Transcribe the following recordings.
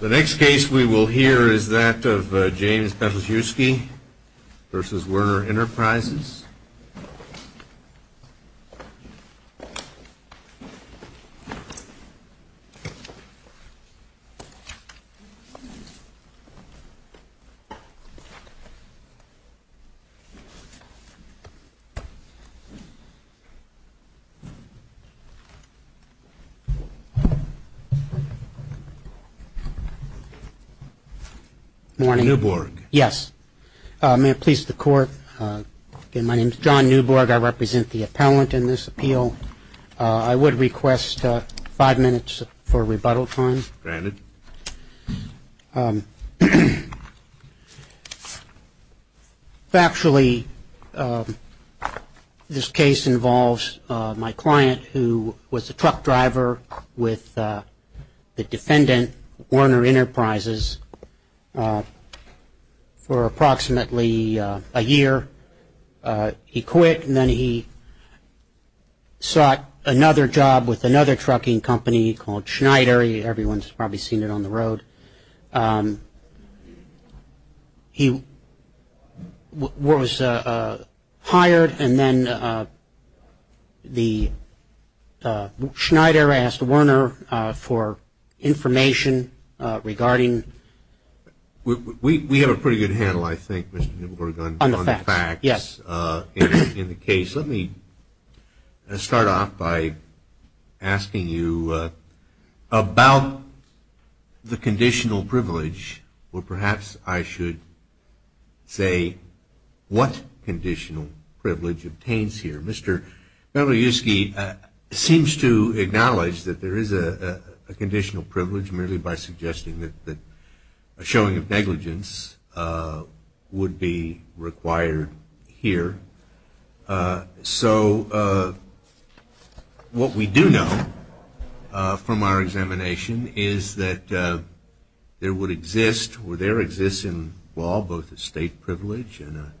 The next case we will hear is that of James Bentlejewski v. Werner Enterprises. Good morning. Newborg. Yes. May it please the Court, my name is John Newborg. I represent the appellant in this appeal. I would request five minutes for rebuttal time. Granted. Factually, this case involves my client who was a truck driver with the defendant, Werner Enterprises, for approximately a year. He quit and then he sought another job with another trucking company called Schneider. Everyone's probably seen it on the road. He was hired and then the Schneider asked Werner for information regarding. We have a pretty good handle, I think, Mr. Newborg, on the facts in the case. Let me start off by asking you about the conditional privilege, or perhaps I should say what conditional privilege obtains here. Mr. Bentlejewski seems to acknowledge that there is a conditional privilege merely by suggesting that a showing of negligence would be required here. So what we do know from our examination is that there exists in law both a state privilege and a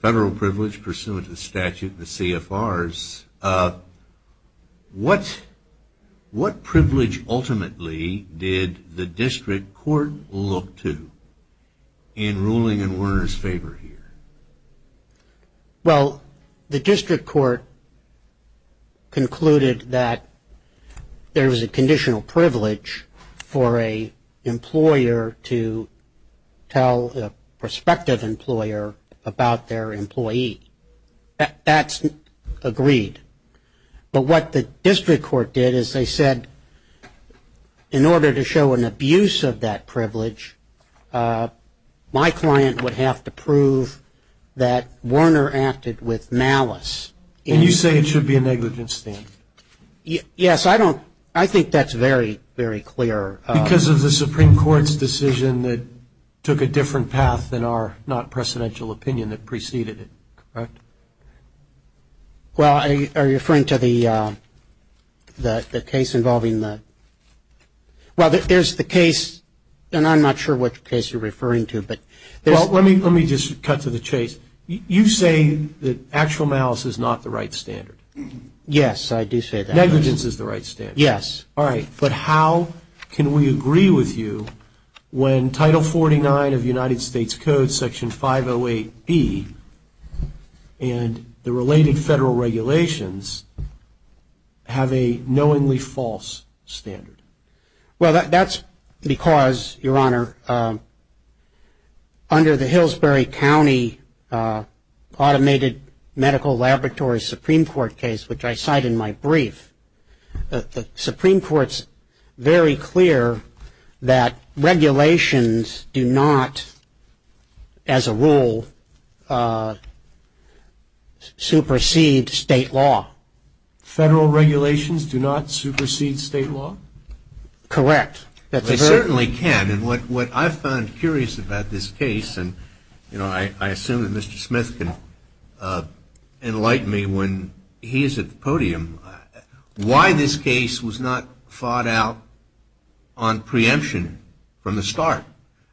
federal privilege pursuant to the statute, the CFRs. What privilege ultimately did the district court look to in ruling in Werner's favor here? Well, the district court concluded that there was a conditional privilege for an employer to tell a prospective employer about their employee. That's agreed, but what the district court did is they said in order to show an abuse of that privilege, my client would have to prove that Werner acted with malice. And you say it should be a negligence then? Yes, I think that's very, very clear. Because of the Supreme Court's decision that took a different path than our not precedential opinion that preceded it, correct? Well, are you referring to the case involving the – well, there's the case, and I'm not sure which case you're referring to, but there's – Well, let me just cut to the chase. You say that actual malice is not the right standard. Yes, I do say that. Negligence is the right standard. Yes. All right. But how can we agree with you when Title 49 of the United States Code, Section 508B, and the related federal regulations have a knowingly false standard? Well, that's because, Your Honor, under the Hillsbury County Automated Medical Laboratory Supreme Court case, which I cite in my brief, the Supreme Court's very clear that regulations do not, as a rule, supersede state law. Federal regulations do not supersede state law? Correct. They certainly can. And what I found curious about this case, and, you know, I assume that Mr. Smith can enlighten me when he is at the podium, why this case was not fought out on preemption from the start.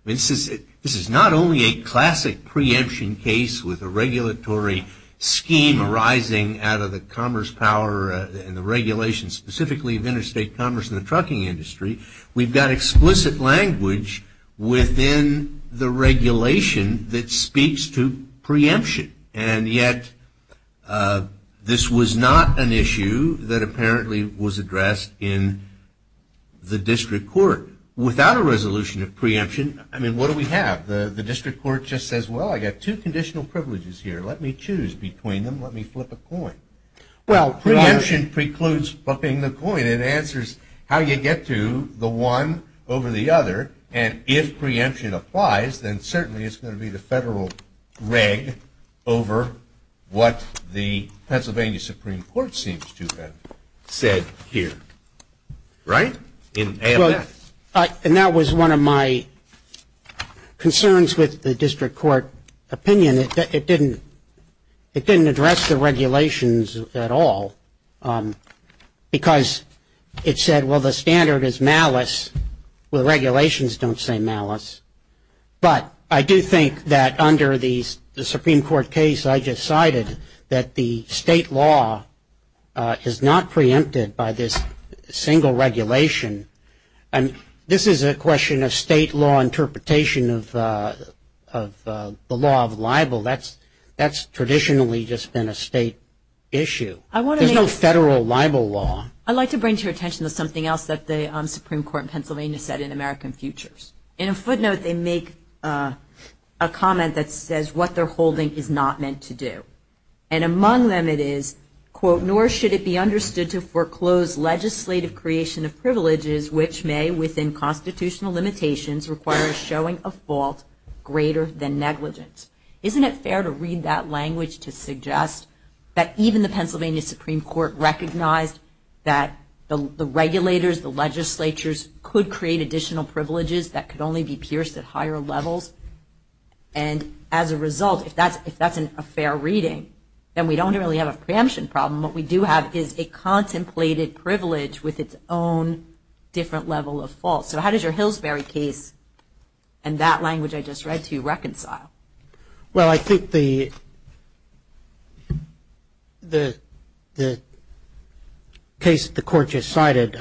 This is not only a classic preemption case with a regulatory scheme arising out of the commerce power and the regulations specifically of interstate commerce and the trucking industry. We've got explicit language within the regulation that speaks to preemption. And yet this was not an issue that apparently was addressed in the district court. Without a resolution of preemption, I mean, what do we have? The district court just says, well, I've got two conditional privileges here. Let me choose between them. Let me flip a coin. Well, preemption precludes flipping the coin. And it answers how you get to the one over the other. And if preemption applies, then certainly it's going to be the federal reg over what the Pennsylvania Supreme Court seems to have said here. Right? And that was one of my concerns with the district court opinion. It didn't address the regulations at all because it said, well, the standard is malice. The regulations don't say malice. But I do think that under the Supreme Court case, I decided that the state law is not preempted by this single regulation. And this is a question of state law interpretation of the law of libel. That's traditionally just been a state issue. There's no federal libel law. I'd like to bring to your attention something else that the Supreme Court in Pennsylvania said in American Futures. In a footnote, they make a comment that says what they're holding is not meant to do. And among them it is, quote, nor should it be understood to foreclose legislative creation of privileges, which may, within constitutional limitations, require a showing of fault greater than negligence. Isn't it fair to read that language to suggest that even the Pennsylvania Supreme Court recognized that the regulators, the legislatures could create additional privileges that could only be pierced at higher levels? And as a result, if that's a fair reading, then we don't really have a preemption problem. What we do have is a contemplated privilege with its own different level of fault. So how does your Hillsbury case and that language I just read to you reconcile? Well, I think the case the court just cited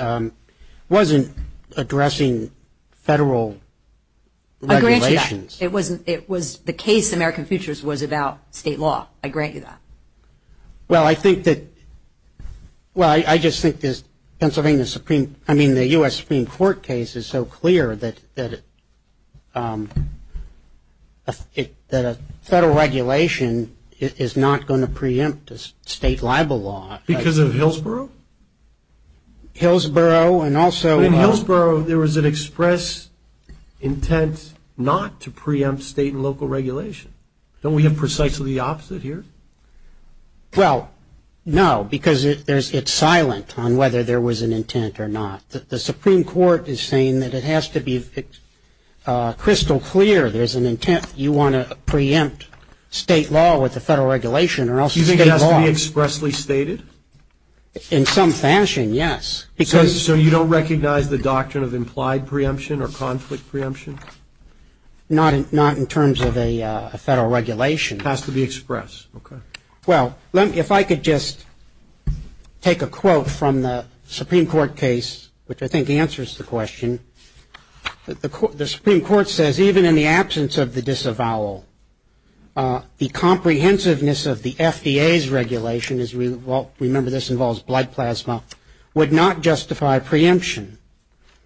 wasn't addressing federal regulations. I grant you that. It was the case in American Futures was about state law. I grant you that. Well, I think that, well, I just think the Pennsylvania Supreme, I mean, the U.S. Supreme Court case is so clear that a federal regulation is not going to preempt a state libel law. Because of Hillsborough? Hillsborough and also. In Hillsborough there was an express intent not to preempt state and local regulation. Don't we have precisely the opposite here? Well, no, because it's silent on whether there was an intent or not. The Supreme Court is saying that it has to be crystal clear there's an intent. You want to preempt state law with a federal regulation or else state law. You think it has to be expressly stated? In some fashion, yes. So you don't recognize the doctrine of implied preemption or conflict preemption? Not in terms of a federal regulation. It has to be expressed. Okay. Well, if I could just take a quote from the Supreme Court case, which I think answers the question. The Supreme Court says, even in the absence of the disavowal, the comprehensiveness of the FDA's regulation, as we remember this involves blood plasma, would not justify preemption.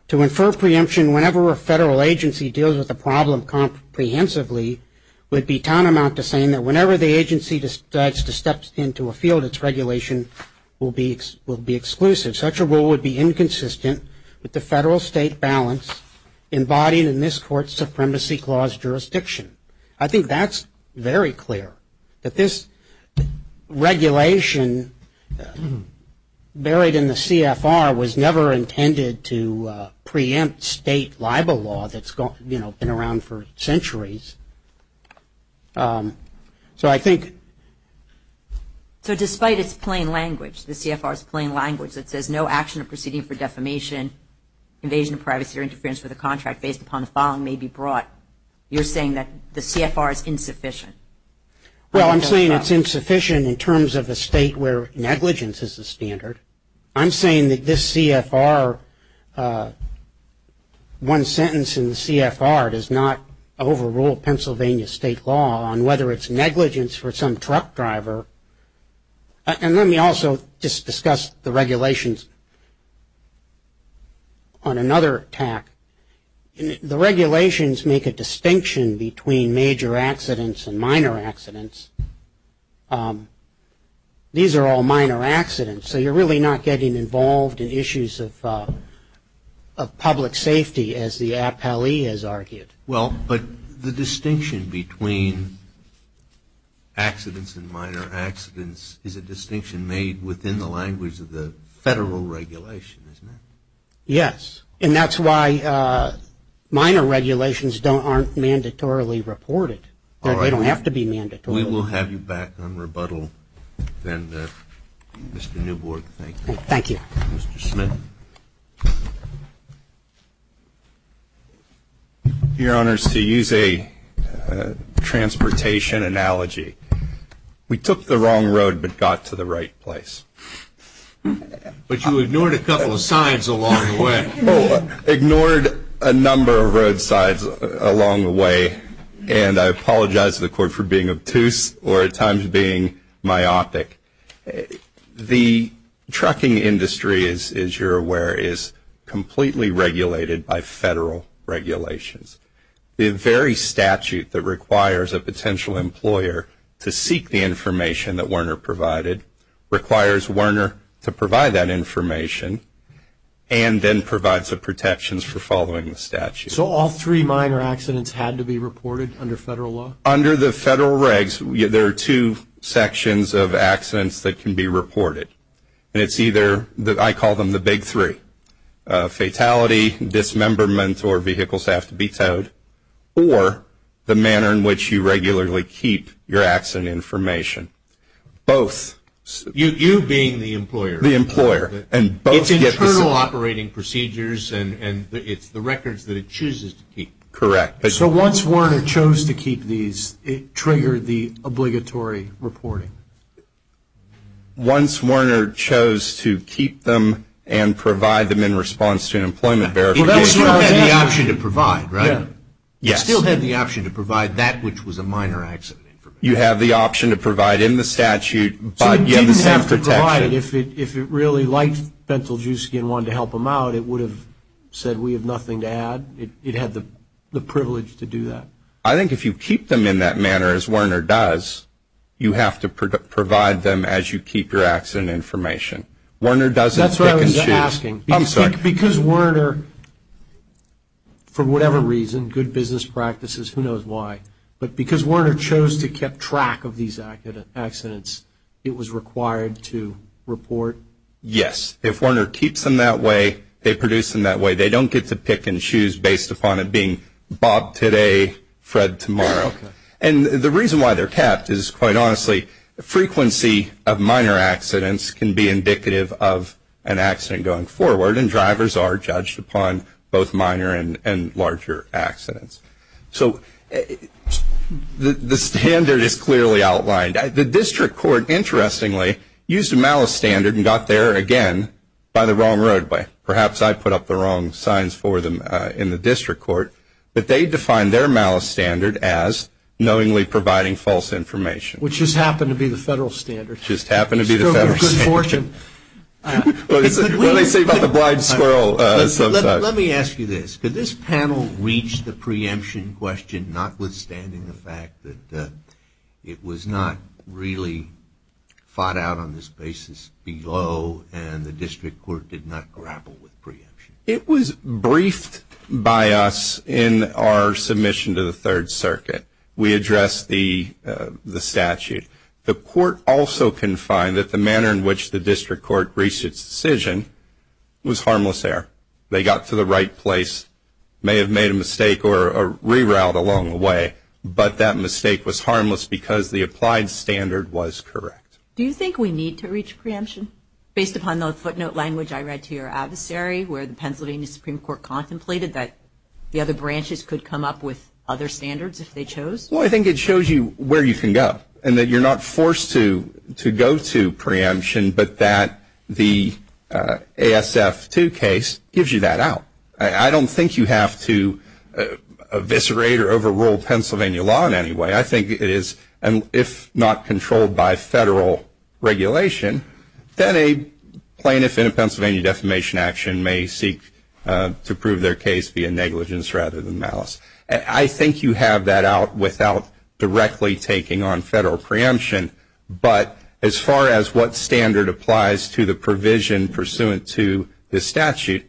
To infer preemption whenever a federal agency deals with a problem comprehensively would be tantamount to saying that whenever the agency decides to step into a field, its regulation will be exclusive. Such a rule would be inconsistent with the federal-state balance embodied in this Court's Supremacy Clause jurisdiction. I think that's very clear, that this regulation buried in the CFR was never intended to preempt state libel law that's, you know, been around for centuries. So I think. So despite its plain language, the CFR's plain language that says no action or proceeding for defamation, invasion of privacy or interference with a contract based upon the following may be brought, you're saying that the CFR is insufficient. Well, I'm saying it's insufficient in terms of a state where negligence is the standard. I'm saying that this CFR, one sentence in the CFR does not overrule Pennsylvania state law on whether it's negligence for some truck driver. And let me also just discuss the regulations on another tack. The regulations make a distinction between major accidents and minor accidents. These are all minor accidents, so you're really not getting involved in issues of public safety, as the appellee has argued. Well, but the distinction between accidents and minor accidents is a distinction made within the language of the federal regulation, isn't it? Yes. And that's why minor regulations aren't mandatorily reported. All right. They don't have to be mandatory. We will have you back on rebuttal then, Mr. Newbord. Thank you. Thank you. Mr. Smith. Your Honors, to use a transportation analogy, we took the wrong road but got to the right place. But you ignored a couple of signs along the way. Ignored a number of road signs along the way, and I apologize to the Court for being obtuse or at times being myopic. The trucking industry, as you're aware, is completely regulated by federal regulations. The very statute that requires a potential employer to seek the information that Werner provided requires Werner to provide that information and then provides the protections for following the statute. So all three minor accidents had to be reported under federal law? Under the federal regs, there are two sections of accidents that can be reported. And it's either, I call them the big three, fatality, dismemberment, or vehicles have to be towed, or the manner in which you regularly keep your accident information. Both. You being the employer. The employer. It's internal operating procedures and it's the records that it chooses to keep. Correct. So once Werner chose to keep these, it triggered the obligatory reporting? Once Werner chose to keep them and provide them in response to an employment verification. He still had the option to provide, right? Yes. He still had the option to provide that which was a minor accident information. You have the option to provide in the statute, but you have the same protection. If it really liked Fentel-Juski and wanted to help him out, it would have said we have nothing to add. It had the privilege to do that. I think if you keep them in that manner as Werner does, you have to provide them as you keep your accident information. Werner doesn't pick and choose. That's what I was asking. I'm sorry. Because Werner, for whatever reason, good business practices, who knows why, but because Werner chose to keep track of these accidents, it was required to report? Yes. If Werner keeps them that way, they produce them that way. They don't get to pick and choose based upon it being Bob today, Fred tomorrow. And the reason why they're kept is, quite honestly, frequency of minor accidents can be indicative of an accident going forward, and drivers are judged upon both minor and larger accidents. So the standard is clearly outlined. The district court, interestingly, used a malice standard and got there again by the wrong roadway. Perhaps I put up the wrong signs for them in the district court, but they defined their malice standard as knowingly providing false information. Which just happened to be the federal standard. Just happened to be the federal standard. You still have your good fortune. What they say about the blind squirrel. Let me ask you this. Could this panel reach the preemption question, notwithstanding the fact that it was not really fought out on this basis below and the district court did not grapple with preemption? It was briefed by us in our submission to the Third Circuit. We addressed the statute. The court also can find that the manner in which the district court reached its decision was harmless there. They got to the right place, may have made a mistake or rerouted along the way, but that mistake was harmless because the applied standard was correct. Do you think we need to reach preemption? Based upon the footnote language I read to your adversary where the Pennsylvania Supreme Court contemplated that the other branches could come up with other standards if they chose? Well, I think it shows you where you can go and that you're not forced to go to preemption, but that the ASF 2 case gives you that out. I don't think you have to eviscerate or overrule Pennsylvania law in any way. I think it is, if not controlled by federal regulation, then a plaintiff in a Pennsylvania defamation action may seek to prove their case via negligence rather than malice. I think you have that out without directly taking on federal preemption, but as far as what standard applies to the provision pursuant to the statute,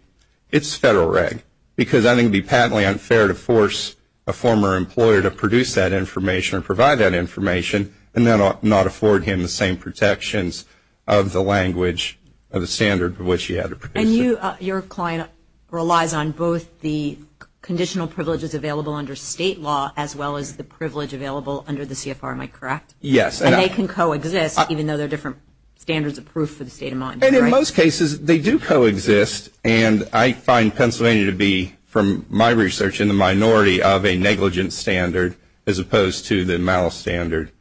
it's federal reg because I think it would be patently unfair to force a former employer to produce that information or provide that information and then not afford him the same protections of the language or the standard for which he had to produce it. And your client relies on both the conditional privileges available under state law as well as the privilege available under the CFR, am I correct? Yes. And they can coexist even though they're different standards of proof for the state of mind, right? In most cases they do coexist, and I find Pennsylvania to be, from my research, in the minority of a negligence standard as opposed to the malice standard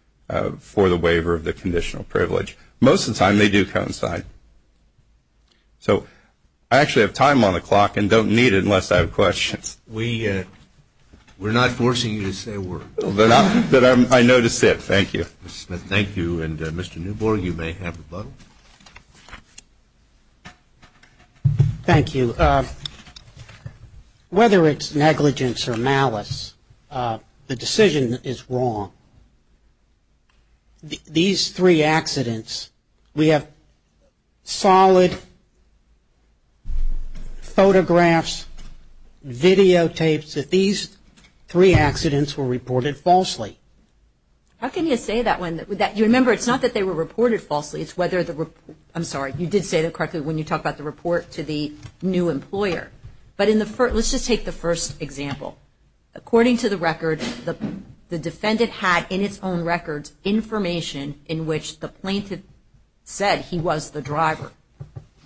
for the waiver of the conditional privilege. Most of the time they do coincide. So I actually have time on the clock and don't need it unless I have questions. We're not forcing you to say a word. But I know to sit. Thank you. Mr. Smith, thank you. And, Mr. Newborn, you may have the button. Thank you. Whether it's negligence or malice, the decision is wrong. These three accidents, we have solid photographs, videotapes, that these three accidents were reported falsely. How can you say that? Remember, it's not that they were reported falsely. I'm sorry, you did say that correctly when you talked about the report to the new employer. But let's just take the first example. According to the record, the defendant had in its own records information in which the plaintiff said he was the driver.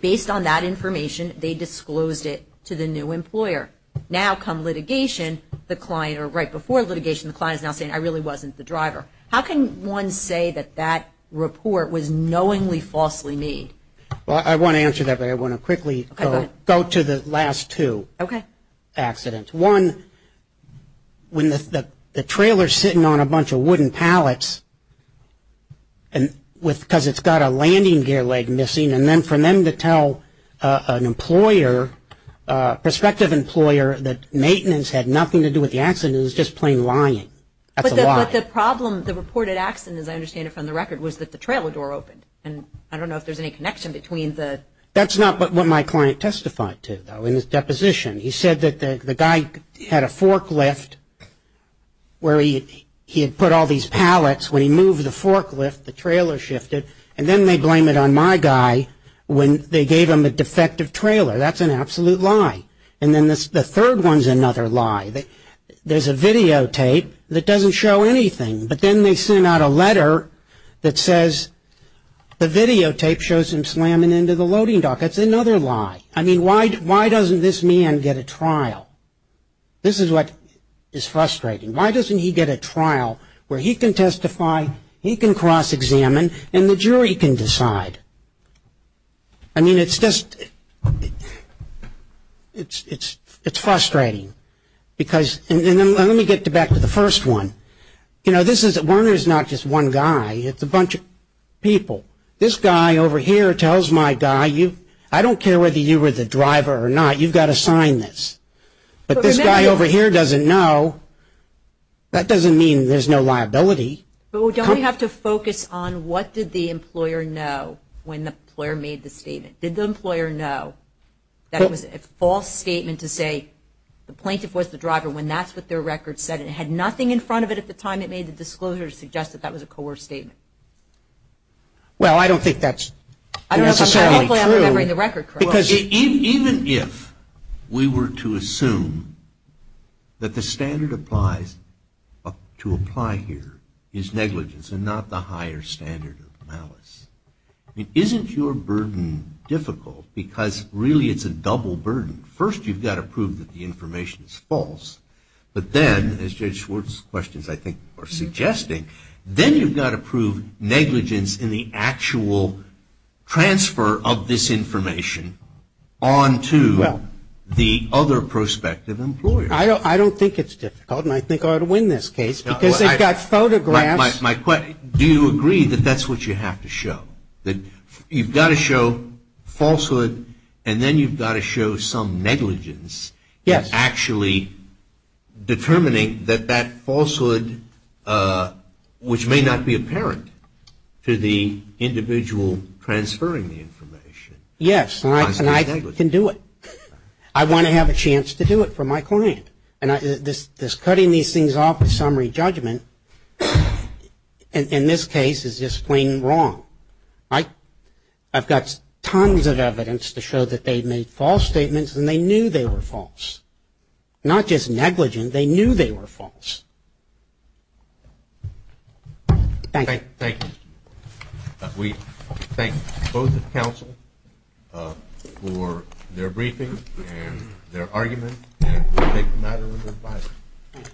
Based on that information, they disclosed it to the new employer. Now come litigation, the client, or right before litigation, the client is now saying I really wasn't the driver. How can one say that that report was knowingly falsely made? Well, I want to answer that, but I want to quickly go to the last two accidents. One, when the trailer's sitting on a bunch of wooden pallets because it's got a landing gear leg missing, and then for them to tell an employer, prospective employer, that maintenance had nothing to do with the accident is just plain lying. That's a lie. But the problem, the reported accident, as I understand it from the record, was that the trailer door opened. And I don't know if there's any connection between the. That's not what my client testified to, though, in his deposition. He said that the guy had a forklift where he had put all these pallets. When he moved the forklift, the trailer shifted, and then they blame it on my guy when they gave him a defective trailer. That's an absolute lie. And then the third one's another lie. There's a videotape that doesn't show anything, but then they send out a letter that says the videotape shows him slamming into the loading dock. That's another lie. I mean, why doesn't this man get a trial? This is what is frustrating. Why doesn't he get a trial where he can testify, he can cross-examine, and the jury can decide? I mean, it's just frustrating. And let me get back to the first one. You know, Warner's not just one guy. It's a bunch of people. This guy over here tells my guy, I don't care whether you were the driver or not, you've got to sign this. But this guy over here doesn't know. That doesn't mean there's no liability. Well, don't we have to focus on what did the employer know when the employer made the statement? Did the employer know that it was a false statement to say the plaintiff was the driver when that's what their record said and it had nothing in front of it at the time it made the disclosure to suggest that that was a coerced statement? Well, I don't think that's necessarily true. Even if we were to assume that the standard to apply here is negligence and not the higher standard of malice, isn't your burden difficult? Because really it's a double burden. First, you've got to prove that the information is false. But then, as Judge Schwartz's questions, I think, are suggesting, then you've got to prove negligence in the actual transfer of this information on to the other prospective employer. I don't think it's difficult and I think I would win this case because they've got photographs. Do you agree that that's what you have to show? That you've got to show falsehood and then you've got to show some negligence. Yes. And actually determining that that falsehood, which may not be apparent to the individual transferring the information. Yes. And I can do it. I want to have a chance to do it for my client. And this cutting these things off of summary judgment, in this case, is just plain wrong. I've got tons of evidence to show that they've made false statements and they knew they were false. Not just negligence, they knew they were false. Thank you. Thank you. We thank both the counsel for their briefing and their argument and we thank the matter of advisor. Thank you.